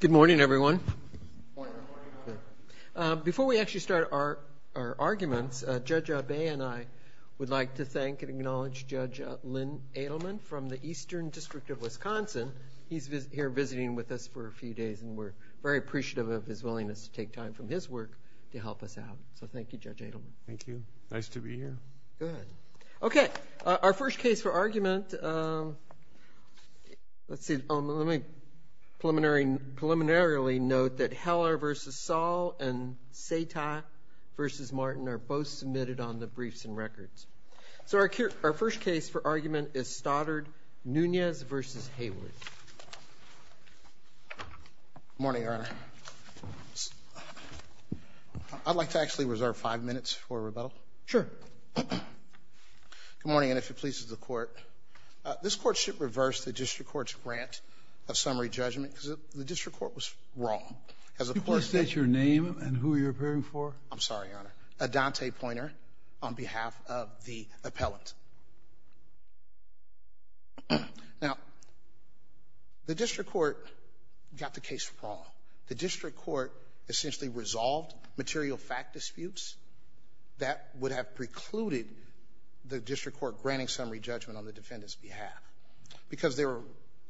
Good morning everyone. Before we actually start our arguments, Judge Abe and I would like to thank and acknowledge Judge Lynn Adelman from the Eastern District of Wisconsin. He's here visiting with us for a few days and we're very appreciative of his willingness to take time from his work to help us out. So thank you, Judge Adelman. Thank you. Nice to be here. Okay, our first case for argument, let's see, let me preliminarily note that Heller v. Saul and Sata v. Martin are both submitted on the briefs and records. So our first case for argument is Stoddard-Nunez v. Hayward. Good morning, Your Honor. I'd like to actually reserve five minutes for rebuttal. Sure. Good morning, and if it pleases the Court, this Court should reverse the district court's grant of summary judgment because the district court was wrong. Could you please state your name and who you're appearing for? I'm sorry, Your Honor. Adante Pointer on behalf of the appellant. Now, the district court got the case wrong. The district court essentially resolved material fact disputes that would have precluded the district court granting summary judgment on the defendant's behalf because there were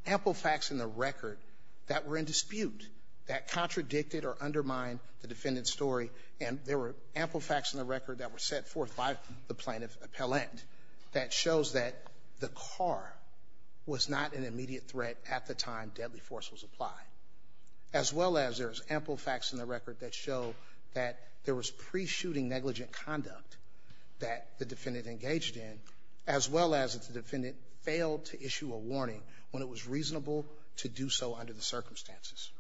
ample facts in the record that were in dispute that contradicted or undermined the defendant's story and there were ample facts in the record that were set forth by the plaintiff appellant that shows that the car was not an immediate threat at the time deadly force was applied as well as there's ample facts in the record that show that there was pre-shooting negligent conduct that the defendant engaged in as well as if the defendant failed to issue a warning when it was reasonable to do so under the circumstances.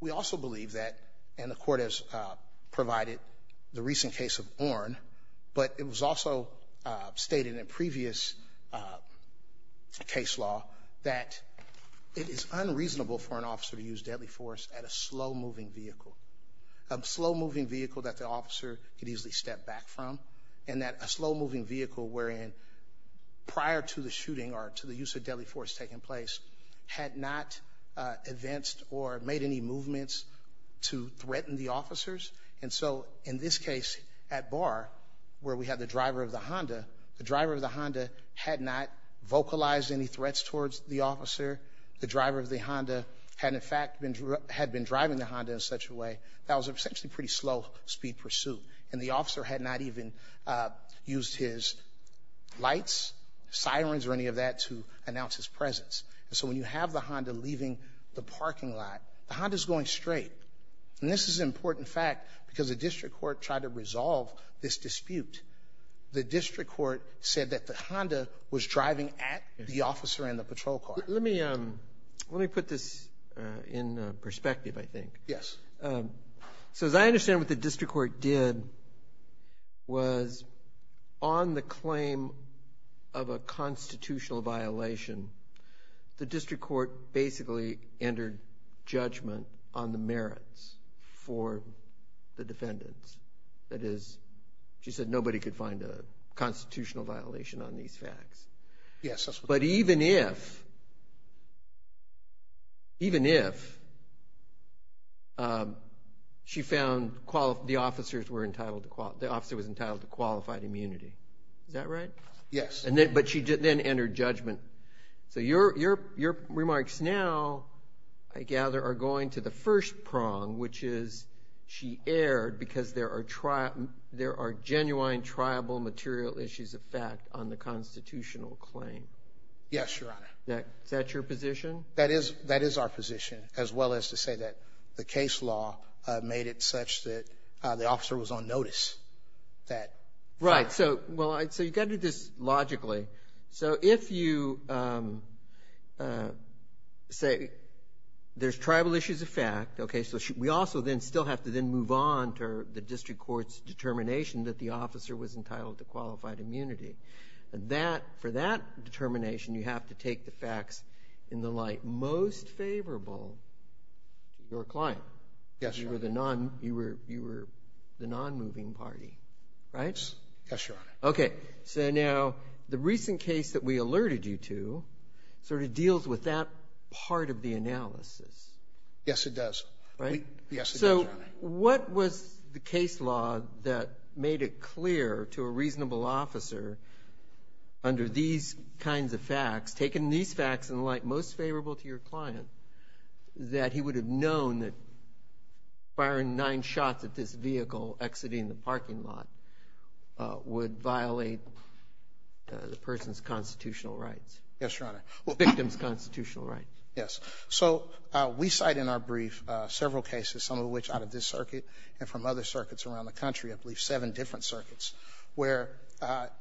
We also believe that, and the Court has provided the recent case of Orne, but it was also stated in previous case law that it is unreasonable for an officer to use deadly force at a slow-moving vehicle, a slow-moving vehicle that the officer could easily step back from and that a slow-moving vehicle wherein prior to the shooting or to the use of deadly force taking place had not advanced or made any movements to threaten the officers. And so in this case at Barr where we had the driver of the Honda, the driver of the Honda had not vocalized any threats towards the officer. The driver of the Honda had in fact been driving the Honda in such a way that was essentially a pretty slow speed pursuit and the officer had not even used his lights, sirens or any of that to announce his presence. And so when you have the Honda leaving the parking lot, the Honda is going straight. And this is an important fact because the District Court tried to resolve this dispute. The District Court said that the Honda was driving at the officer and the patrol car. Let me put this in perspective, I think. Yes. So as I understand what the District Court did was on the claim of a constitutional violation, the District Court basically entered judgment on the merits for the defendants. That is, she said nobody could find a constitutional violation on these facts. Yes. But even if she found the officer was entitled to qualified immunity, is that right? Yes. But she then entered judgment. So your remarks now, I gather, are going to the first prong, which is she erred because there are genuine tribal material issues of fact on the constitutional claim. Yes, Your Honor. Is that your position? That is our position as well as to say that the case law made it such that the officer was on notice. Right. So you've got to do this logically. So if you say there's tribal issues of fact, okay, so we also then still have to then move on to the District Court's determination that the officer was entitled to qualified immunity. For that determination, you have to take the facts in the light most favorable to your client. Yes, Your Honor. You were the non-moving party, right? Yes, Your Honor. Okay. So now the recent case that we alerted you to sort of deals with that part of the analysis. Yes, it does. Right? Yes, it does, Your Honor. So what was the case law that made it clear to a reasonable officer under these kinds of facts, taking these facts in the light most favorable to your client, that he would have known that firing nine shots at this vehicle exiting the parking lot would violate the person's constitutional rights? Yes, Your Honor. Well, victim's constitutional rights. Yes. So we cite in our brief several cases, some of which out of this circuit and from other circuits around the country, I believe seven different circuits, where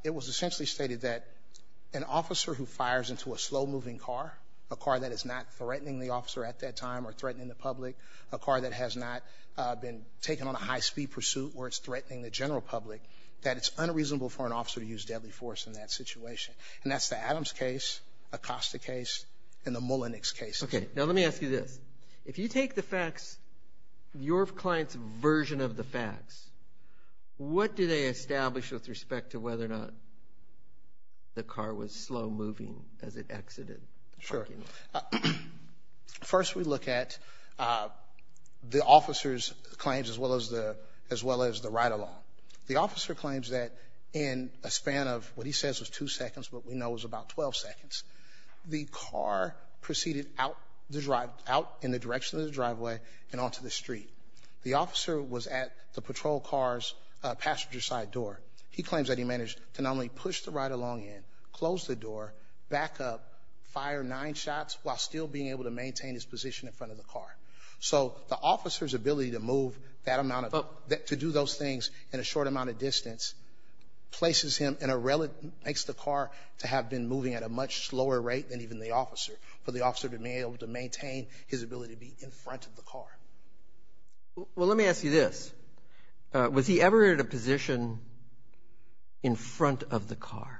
it was essentially stated that an officer who fires into a slow-moving car, a car that is not threatening the officer at that time or threatening the public, a car that has not been taken on a high-speed pursuit where it's threatening the general public, that it's unreasonable for an officer to use deadly force in that situation. And that's the Adams case, Acosta case, and the Mullenix case. Okay. Now let me ask you this. If you take the facts, your client's version of the facts, what do they establish with respect to whether or not the car was slow-moving as it exited? Sure. First we look at the officer's claims as well as the ride-along. The officer claims that in a span of what he says was two seconds, but we know it was about 12 seconds, the car proceeded out in the direction of the driveway and onto the street. The officer was at the patrol car's passenger side door. He claims that he managed to not only push the ride-along in, close the door, back up, fire nine shots while still being able to maintain his position in front of the car. So the officer's ability to move that amount of to do those things in a short amount of distance places him in a relative, makes the car to have been moving at a much slower rate than even the officer, for the officer to be able to maintain his ability to be in front of the car. Well, let me ask you this. Was he ever in a position in front of the car?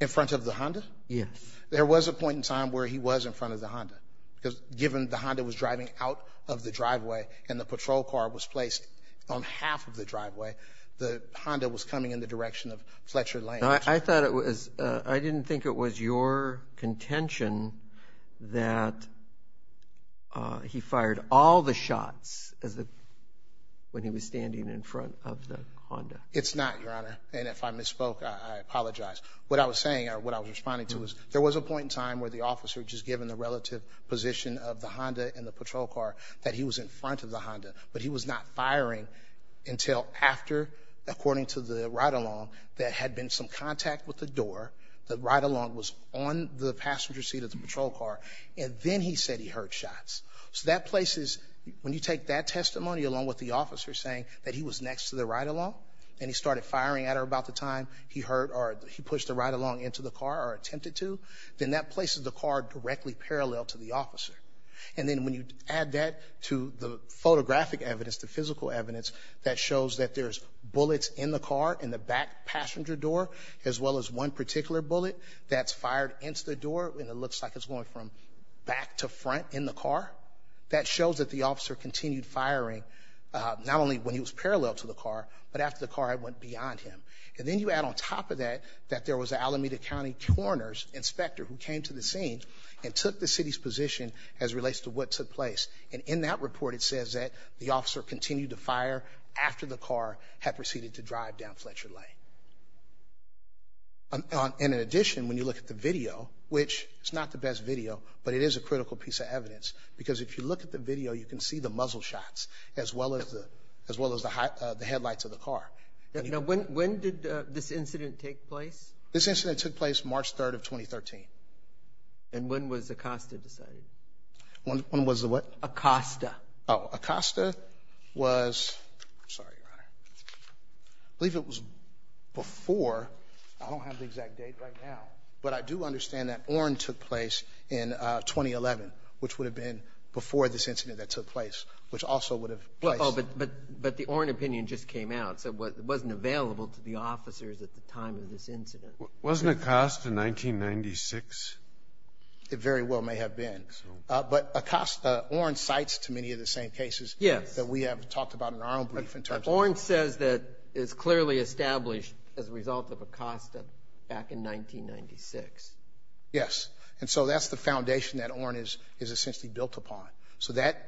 In front of the Honda? Yes. There was a point in time where he was in front of the Honda, because given the Honda was driving out of the driveway and the patrol car was placed on half of the driveway, the Honda was coming in the direction of Fletcher Lane. I didn't think it was your contention that he fired all the shots when he was standing in front of the Honda. It's not, Your Honor. And if I misspoke, I apologize. What I was saying or what I was responding to was there was a point in time where the officer, just given the relative position of the Honda and the patrol car, that he was in front of the Honda, but he was not firing until after, according to the ride-along, there had been some contact with the door. The ride-along was on the passenger seat of the patrol car, and then he said he heard shots. So that places, when you take that testimony along with the officer saying that he was next to the ride-along and he started firing at her about the time he heard or he pushed the ride-along into the car or attempted to, then that places the car directly parallel to the officer. And then when you add that to the photographic evidence, the physical evidence that shows that there's bullets in the car, in the back passenger door, as well as one particular bullet that's fired into the door and it looks like it's going from back to front in the car, that shows that the officer continued firing, not only when he was parallel to the car, but after the car had went beyond him. And then you add on top of that that there was an Alameda County coroner's inspector who came to the scene and took the city's position as relates to what took place. And in that report, it says that the officer continued to fire after the car had proceeded to drive down Fletcher Lane. And in addition, when you look at the video, which is not the best video, but it is a critical piece of evidence, because if you look at the video, you can see the muzzle shots as well as the headlights of the car. Now, when did this incident take place? This incident took place March 3rd of 2013. And when was ACOSTA decided? When was the what? ACOSTA. Oh, ACOSTA was, sorry, I believe it was before, I don't have the exact date right now, but I do understand that ORN took place in 2011, which would have been before this incident that took place, which also would have placed. Oh, but the ORN opinion just came out, so it wasn't available to the officers at the time of this incident. Wasn't ACOSTA 1996? It very well may have been. But ACOSTA, ORN cites to many of the same cases that we have talked about in our own brief in terms of. ORN says that it's clearly established as a result of ACOSTA back in 1996. Yes, and so that's the foundation that ORN is essentially built upon. So that,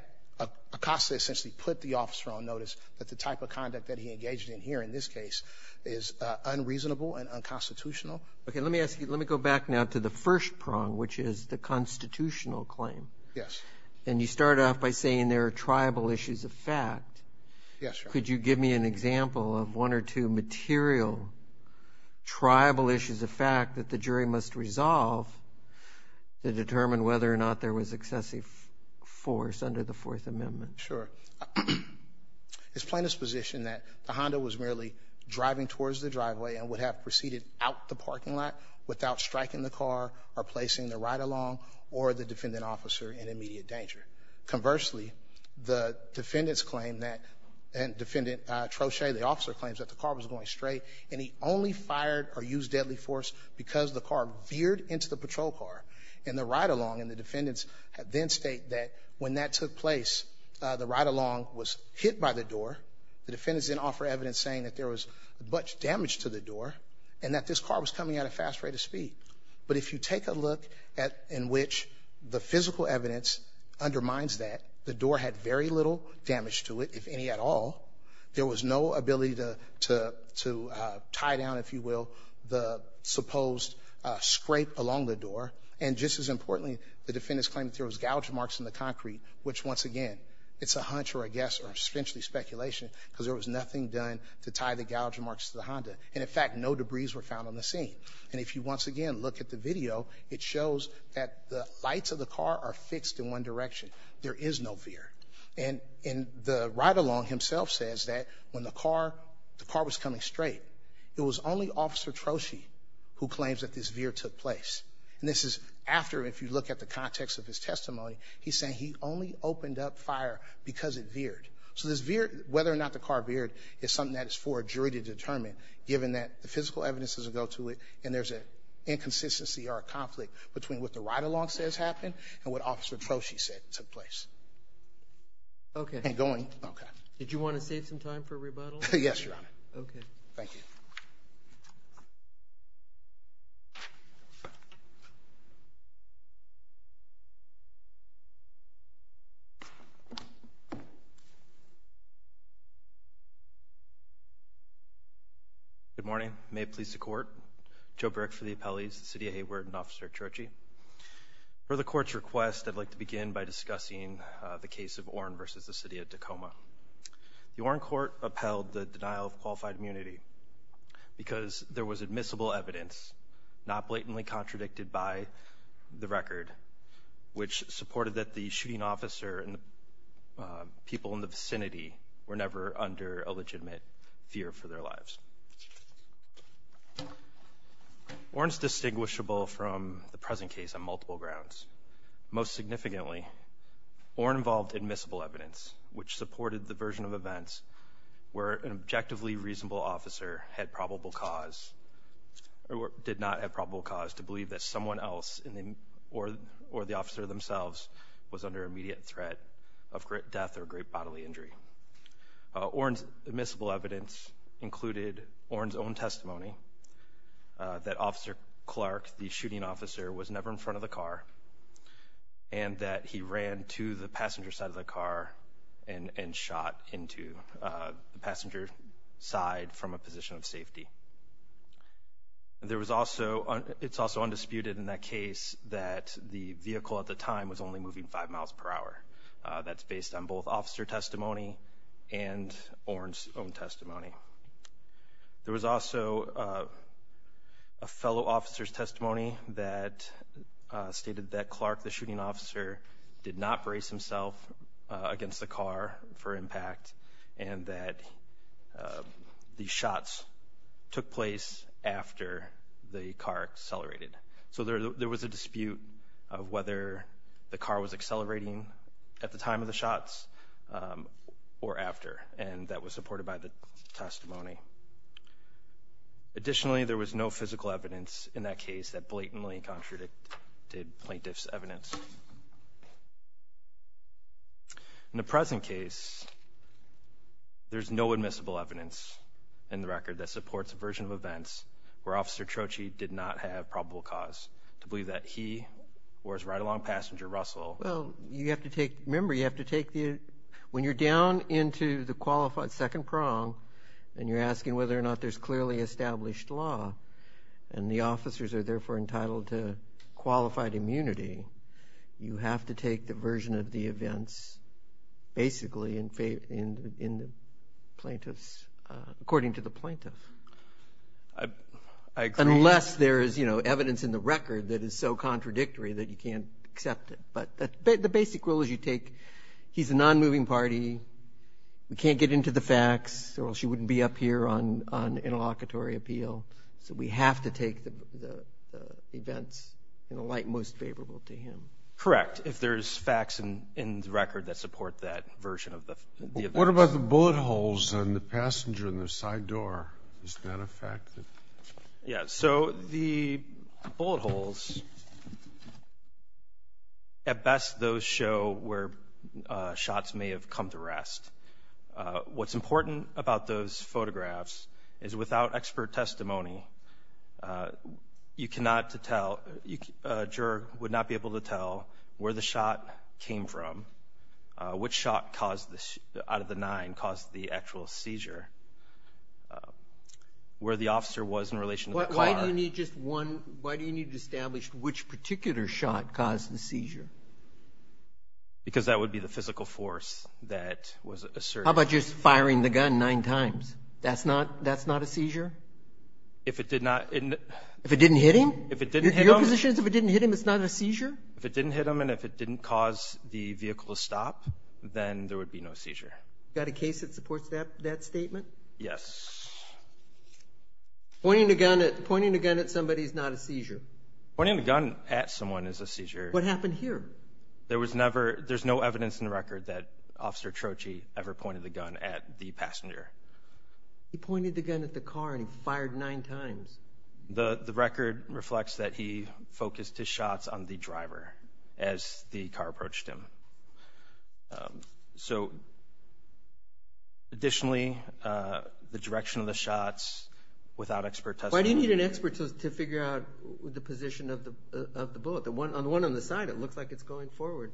ACOSTA essentially put the officer on notice that the type of conduct that he engaged in here in this case is unreasonable and unconstitutional. Okay, let me ask you, let me go back now to the first prong, which is the constitutional claim. Yes. And you start off by saying there are tribal issues of fact. Yes, Your Honor. Could you give me an example of one or two material tribal issues of fact that the jury must resolve to determine whether or not there was excessive force under the Fourth Amendment? Sure. It's plaintiff's position that the Honda was merely driving towards the driveway and would have proceeded out the parking lot without striking the car or placing the ride-along or the defendant officer in immediate danger. Conversely, the defendant's claim that, defendant Troche, the officer claims that the car was going straight, and he only fired or used deadly force because the car veered into the patrol car in the ride-along, and the defendants then state that when that took place, the ride-along was hit by the door. The defendants then offer evidence saying that there was much damage to the door and that this car was coming at a fast rate of speed. But if you take a look in which the physical evidence undermines that, the door had very little damage to it, if any at all. There was no ability to tie down, if you will, the supposed scrape along the door. And just as importantly, the defendants claim that there was gouge marks in the concrete, which, once again, it's a hunch or a guess or essentially speculation because there was nothing done to tie the gouge marks to the Honda. And, in fact, no debris was found on the scene. And if you once again look at the video, it shows that the lights of the car are fixed in one direction. There is no veer. And the ride-along himself says that when the car was coming straight, it was only Officer Troshi who claims that this veer took place. And this is after, if you look at the context of his testimony, he's saying he only opened up fire because it veered. So whether or not the car veered is something that is for a jury to determine, given that the physical evidence doesn't go to it, and there's an inconsistency or a conflict between what the ride-along says happened and what Officer Troshi said took place. Okay. Okay. Did you want to save some time for a rebuttal? Yes, Your Honor. Okay. Thank you. Good morning. May it please the Court. Joe Burke for the Appellees, the City of Hayward, and Officer Troshi. For the Court's request, I'd like to begin by discussing the case of Oren versus the City of Tacoma. The Oren Court upheld the denial of qualified immunity because there was admissible evidence, not blatantly contradicted by the record, which supported that the shooting officer and people in the vicinity were never under a legitimate fear for their lives. Oren is distinguishable from the present case on multiple grounds. Most significantly, Oren involved admissible evidence, which supported the version of events where an objectively reasonable officer had probable cause or did not have probable cause to believe that someone else or the officer themselves was under immediate threat of death or great bodily injury. Oren's admissible evidence included Oren's own testimony that Officer Clark, the shooting officer, was never in front of the car and that he ran to the passenger side of the car and shot into the passenger side from a position of safety. It's also undisputed in that case that the vehicle at the time was only moving five miles per hour. That's based on both officer testimony and Oren's own testimony. There was also a fellow officer's testimony that stated that Clark, the shooting officer, did not brace himself against the car for impact and that the shots took place after the car accelerated. So there was a dispute of whether the car was accelerating at the time of the shots or after, and that was supported by the testimony. Additionally, there was no physical evidence in that case that blatantly contradicted plaintiff's evidence. In the present case, there's no admissible evidence in the record that supports a version of events where Officer Troche did not have probable cause to believe that he or his ride-along passenger, Russell. Remember, when you're down into the qualified second prong and you're asking whether or not there's clearly established law and the officers are therefore entitled to qualified immunity, you have to take the version of the events, basically, according to the plaintiff. I agree. Unless there is evidence in the record that is so contradictory that you can't accept it. But the basic rule is you take he's a non-moving party, we can't get into the facts, or she wouldn't be up here on interlocutory appeal, so we have to take the events in a light most favorable to him. Correct, if there's facts in the record that support that version of the events. What about the bullet holes on the passenger in the side door? Is that a fact? Yes. So the bullet holes, at best, those show where shots may have come to rest. What's important about those photographs is without expert testimony, you cannot tell, a juror would not be able to tell where the shot came from, which shot out of the nine caused the actual seizure, where the officer was in relation to the car. Why do you need to establish which particular shot caused the seizure? Because that would be the physical force that was asserted. How about just firing the gun nine times? That's not a seizure? If it did not. If it didn't hit him? If it didn't hit him. Your position is if it didn't hit him, it's not a seizure? If it didn't hit him and if it didn't cause the vehicle to stop, then there would be no seizure. Got a case that supports that statement? Yes. Pointing a gun at somebody is not a seizure? Pointing a gun at someone is a seizure. What happened here? There's no evidence in the record that Officer Troche ever pointed the gun at the passenger. He pointed the gun at the car and he fired nine times. The record reflects that he focused his shots on the driver as the car approached him. So, additionally, the direction of the shots without expert testimony. Why do you need an expert to figure out the position of the bullet? The one on the side, it looks like it's going forward.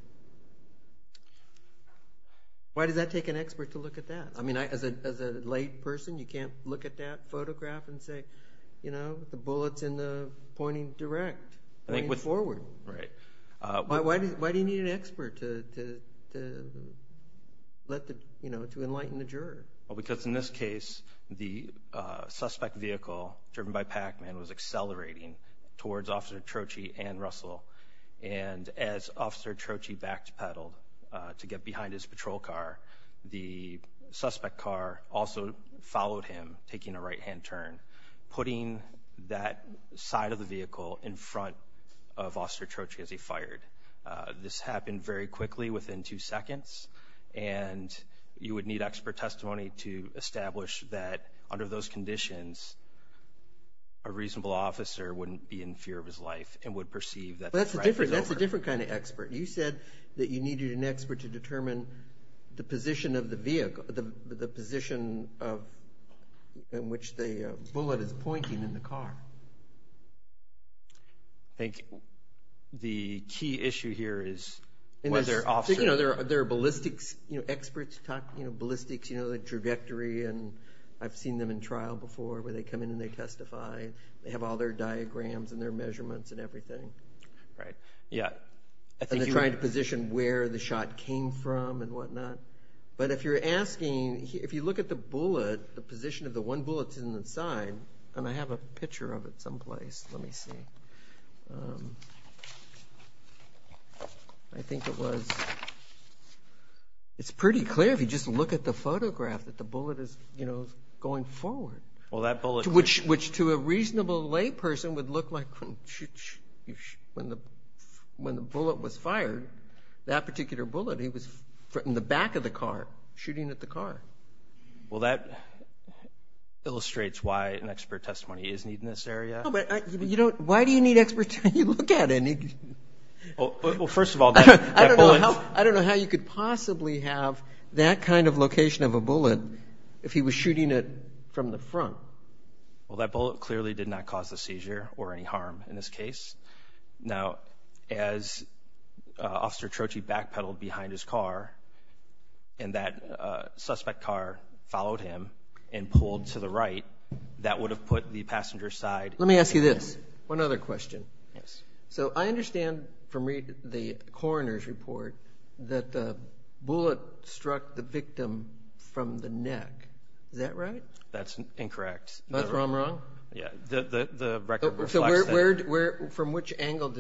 Why does that take an expert to look at that? I mean, as a lay person, you can't look at that photograph and say, you know, the bullet's pointing direct, pointing forward. Right. Why do you need an expert to enlighten the juror? Well, because in this case, the suspect vehicle driven by Pac-Man was accelerating towards Officer Troche and Russell. And as Officer Troche backed pedal to get behind his patrol car, the suspect car also followed him, taking a right-hand turn, putting that side of the vehicle in front of Officer Troche as he fired. This happened very quickly, within two seconds. And you would need expert testimony to establish that under those conditions, a reasonable officer wouldn't be in fear of his life and would perceive that the right was over. That's a different kind of expert. You said that you needed an expert to determine the position of the vehicle, the position in which the bullet is pointing in the car. Thank you. The key issue here is whether officers… You know, there are ballistics experts, you know, ballistics, you know, the trajectory, and I've seen them in trial before where they come in and they testify. They have all their diagrams and their measurements and everything. Right. Yeah. And they're trying to position where the shot came from and whatnot. But if you're asking, if you look at the bullet, the position of the one bullet in the side, and I have a picture of it someplace. Let me see. I think it was… It's pretty clear if you just look at the photograph that the bullet is, you know, going forward. Well, that bullet… Which to a reasonable layperson would look like when the bullet was fired, that particular bullet, it was in the back of the car, shooting at the car. Well, that illustrates why an expert testimony is needed in this area. No, but you don't… Why do you need experts when you look at it? Well, first of all, that bullet… I don't know how you could possibly have that kind of location of a bullet if he was shooting it from the front. Well, that bullet clearly did not cause a seizure or any harm in this case. Now, as Officer Troche backpedaled behind his car and that suspect car followed him and pulled to the right, that would have put the passenger side… Let me ask you this, one other question. Yes. So I understand from the coroner's report that the bullet struck the victim from the neck. Is that right? That's incorrect. That's where I'm wrong? Yeah, the record reflects that. From which angle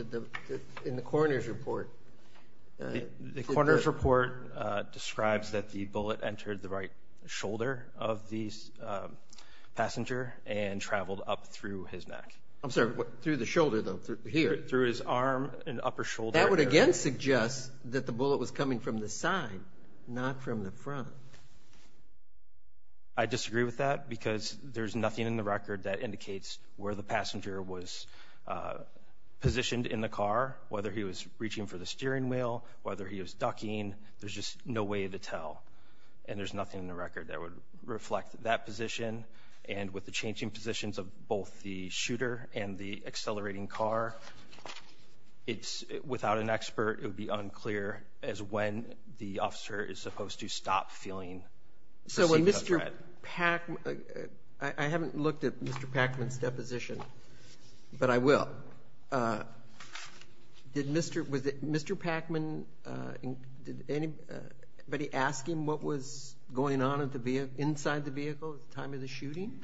in the coroner's report? The coroner's report describes that the bullet entered the right shoulder of the passenger and traveled up through his neck. I'm sorry, through the shoulder though, here? Through his arm and upper shoulder. That would again suggest that the bullet was coming from the side, not from the front. Where the passenger was positioned in the car, whether he was reaching for the steering wheel, whether he was ducking, there's just no way to tell. And there's nothing in the record that would reflect that position. And with the changing positions of both the shooter and the accelerating car, without an expert, it would be unclear as when the officer is supposed to stop feeling perceived threat. I haven't looked at Mr. Packman's deposition, but I will. Did Mr. Packman, did anybody ask him what was going on inside the vehicle at the time of the shooting?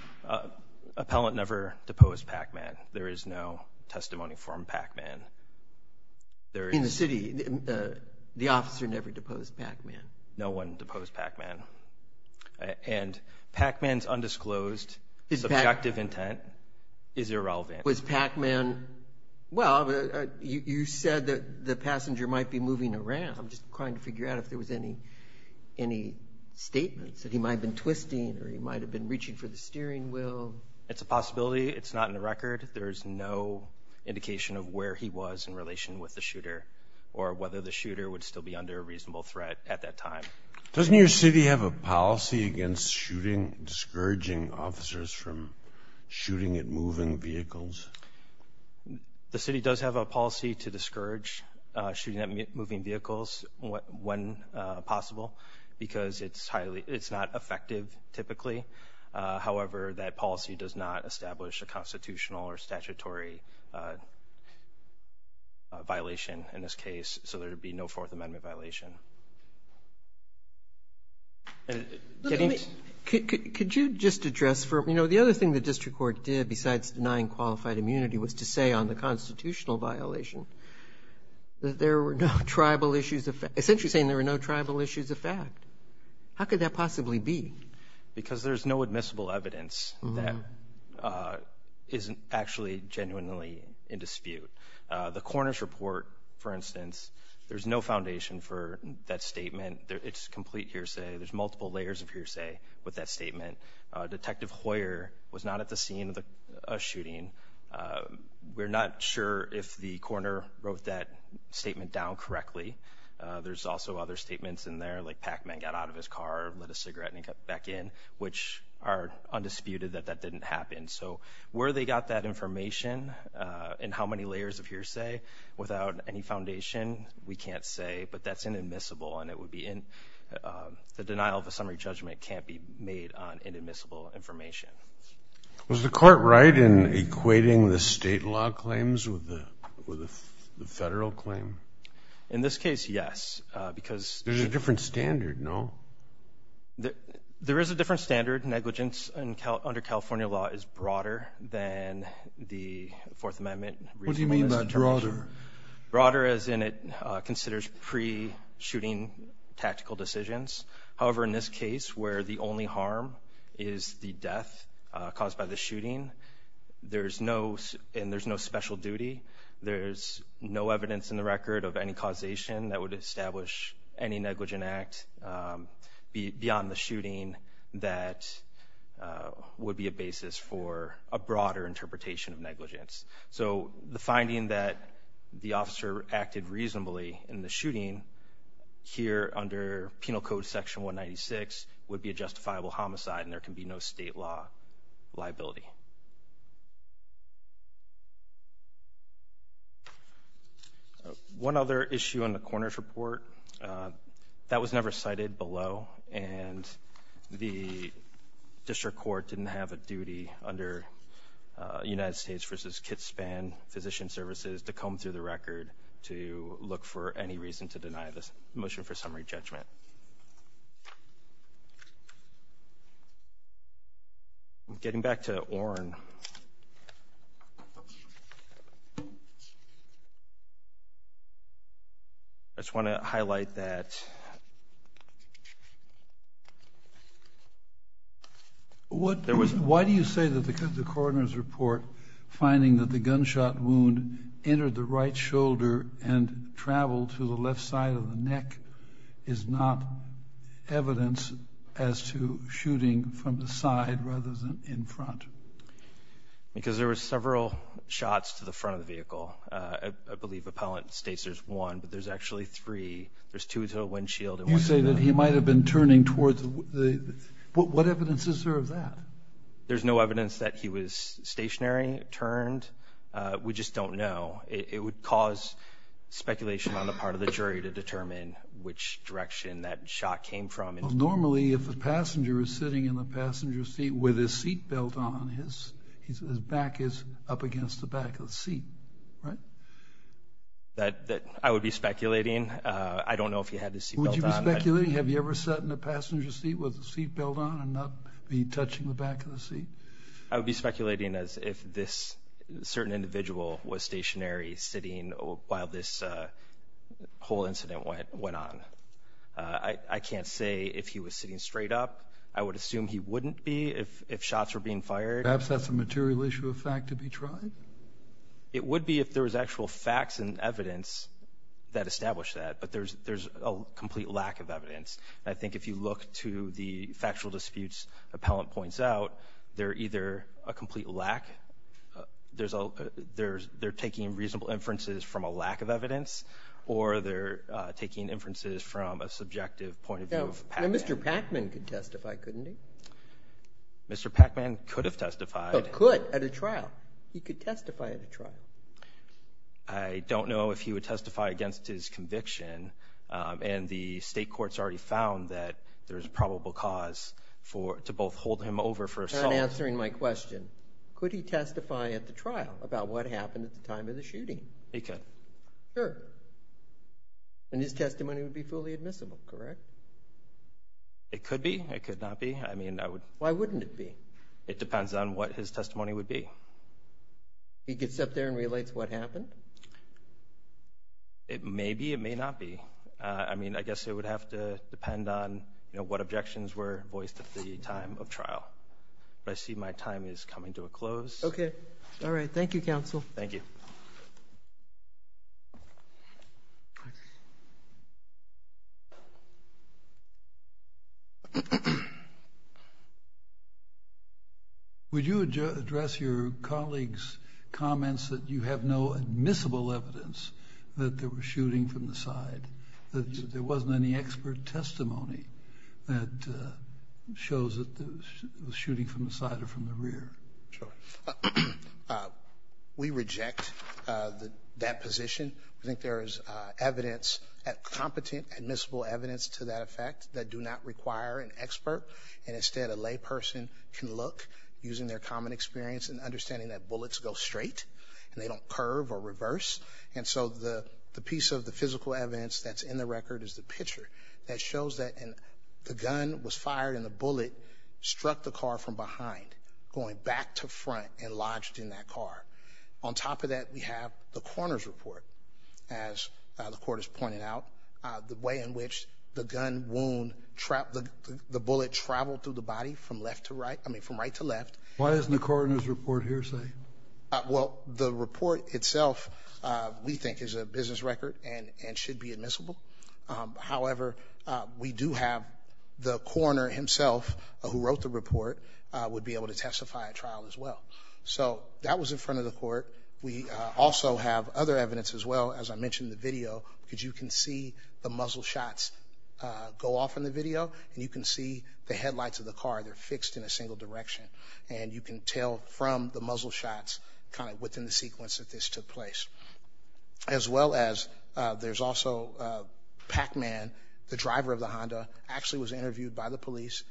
Appellant never deposed Packman. There is no testimony from Packman. In the city, the officer never deposed Packman? No one deposed Packman. And Packman's undisclosed subjective intent is irrelevant. Was Packman, well, you said that the passenger might be moving around. I'm just trying to figure out if there was any statements that he might have been twisting or he might have been reaching for the steering wheel. It's a possibility. It's not in the record. There's no indication of where he was in relation with the shooter or whether the shooter would still be under a reasonable threat at that time. Doesn't your city have a policy against shooting, discouraging officers from shooting at moving vehicles? The city does have a policy to discourage shooting at moving vehicles when possible because it's not effective typically. However, that policy does not establish a constitutional or statutory violation in this case, so there would be no Fourth Amendment violation. Could you just address for me, you know, the other thing the district court did besides denying qualified immunity was to say on the constitutional violation that there were no tribal issues of fact. Essentially saying there were no tribal issues of fact. How could that possibly be? Because there's no admissible evidence that isn't actually genuinely in dispute. The coroner's report, for instance, there's no foundation for that statement. It's complete hearsay. There's multiple layers of hearsay with that statement. Detective Hoyer was not at the scene of the shooting. We're not sure if the coroner wrote that statement down correctly. There's also other statements in there, like Pac-Man got out of his car, lit a cigarette, and he got back in, which are undisputed that that didn't happen. So where they got that information and how many layers of hearsay without any foundation, we can't say, but that's inadmissible, and the denial of a summary judgment can't be made on inadmissible information. Was the court right in equating the state law claims with the federal claim? In this case, yes. There's a different standard, no? There is a different standard. Negligence under California law is broader than the Fourth Amendment. What do you mean by broader? Broader as in it considers pre-shooting tactical decisions. However, in this case, where the only harm is the death caused by the shooting, and there's no special duty, there's no evidence in the record of any causation that would establish any negligent act beyond the shooting that would be a basis for a broader interpretation of negligence. So the finding that the officer acted reasonably in the shooting here under Penal Code Section 196 would be a justifiable homicide, and there can be no state law liability. One other issue on the coroner's report, that was never cited below, and the district court didn't have a duty under United States v. Kitspan Physician Services to comb through the record to look for any reason to deny this motion for summary judgment. I'm getting back to Oren. I just want to highlight that. Why do you say that the coroner's report, finding that the gunshot wound entered the right shoulder and traveled to the left side of the neck, is not evidence as to shooting from the side rather than in front? Because there were several shots to the front of the vehicle. I believe Appellant states there's one, but there's actually three. There's two to a windshield. You say that he might have been turning towards the – what evidence is there of that? There's no evidence that he was stationary, turned. We just don't know. It would cause speculation on the part of the jury to determine which direction that shot came from. Normally, if the passenger is sitting in the passenger seat with his seat belt on, his back is up against the back of the seat, right? That I would be speculating. I don't know if he had his seat belt on. Would you be speculating? Have you ever sat in a passenger seat with the seat belt on and not be touching the back of the seat? I would be speculating as if this certain individual was stationary, sitting while this whole incident went on. I can't say if he was sitting straight up. I would assume he wouldn't be if shots were being fired. Perhaps that's a material issue of fact to be tried? It would be if there was actual facts and evidence that established that, but there's a complete lack of evidence. I think if you look to the factual disputes appellant points out, they're either a complete lack. They're taking reasonable inferences from a lack of evidence or they're taking inferences from a subjective point of view of Pacman. Mr. Pacman could testify, couldn't he? Mr. Pacman could have testified. He could at a trial. He could testify at a trial. I don't know if he would testify against his conviction, and the state courts already found that there's a probable cause to both hold him over for assault. In answering my question, could he testify at the trial about what happened at the time of the shooting? He could. Sure. And his testimony would be fully admissible, correct? It could be. It could not be. Why wouldn't it be? It depends on what his testimony would be. He gets up there and relates what happened? It may be, it may not be. I mean, I guess it would have to depend on, you know, what objections were voiced at the time of trial. But I see my time is coming to a close. Okay. All right. Thank you, counsel. Thank you. Thank you. Would you address your colleague's comments that you have no admissible evidence that there was shooting from the side, that there wasn't any expert testimony that shows that there was shooting from the side or from the rear? Sure. We reject that position. We think there is evidence, competent admissible evidence to that effect that do not require an expert. And instead, a lay person can look, using their common experience and understanding that bullets go straight and they don't curve or reverse. And so the piece of the physical evidence that's in the record is the picture that shows that the gun was fired and the bullet struck the car from behind, going back to front and lodged in that car. On top of that, we have the coroner's report, as the court has pointed out, the way in which the gun wound, the bullet traveled through the body from left to right, I mean, from right to left. Why isn't the coroner's report here safe? Well, the report itself, we think, is a business record and should be admissible. However, we do have the coroner himself, who wrote the report, would be able to testify at trial as well. So that was in front of the court. We also have other evidence as well, as I mentioned in the video, because you can see the muzzle shots go off in the video and you can see the headlights of the car. They're fixed in a single direction, and you can tell from the muzzle shots kind of within the sequence that this took place. As well as there's also Pac-Man, the driver of the Honda, actually was interviewed by the police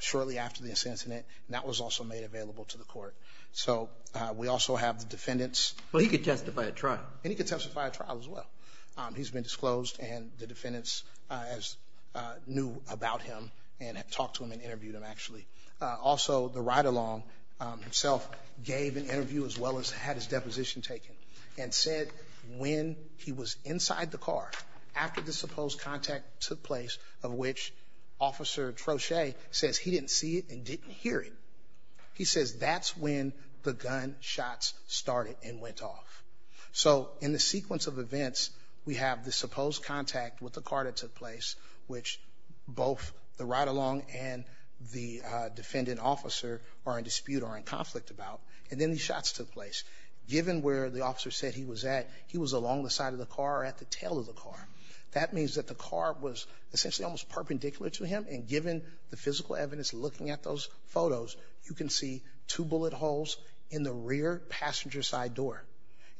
shortly after this incident, and that was also made available to the court. So we also have the defendants. Well, he could testify at trial. And he could testify at trial as well. He's been disclosed, and the defendants knew about him and had talked to him and interviewed him, actually. Also, the ride-along himself gave an interview as well as had his deposition taken and said when he was inside the car, after the supposed contact took place, of which Officer Troche says he didn't see it and didn't hear it. He says that's when the gun shots started and went off. So in the sequence of events, we have the supposed contact with the car that took place, which both the ride-along and the defendant officer are in dispute or in conflict about, and then the shots took place. Given where the officer said he was at, he was along the side of the car or at the tail of the car. That means that the car was essentially almost perpendicular to him, and given the physical evidence looking at those photos, you can see two bullet holes in the rear passenger side door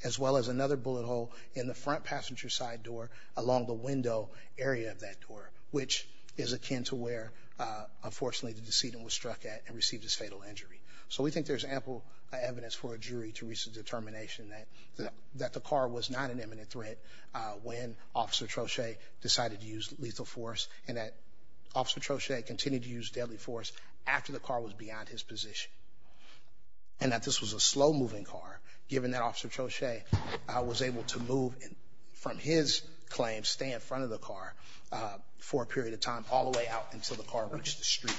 as well as another bullet hole in the front passenger side door along the window area of that door, which is akin to where, unfortunately, the decedent was struck at and received his fatal injury. So we think there's ample evidence for a jury to reach a determination that the car was not an imminent threat when Officer Troche decided to use lethal force and that Officer Troche continued to use deadly force after the car was beyond his position and that this was a slow-moving car, given that Officer Troche was able to move from his claim, stay in front of the car, for a period of time all the way out until the car reached the street.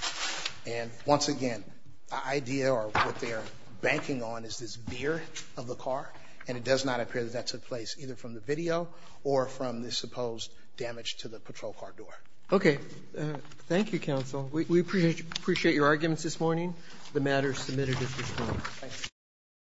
And once again, the idea or what they're banking on is this mirror of the car, and it does not appear that that's a place either from the video or from the supposed damage to the patrol car door. Okay. Thank you, Counsel. We appreciate your arguments this morning. The matter is submitted at this point.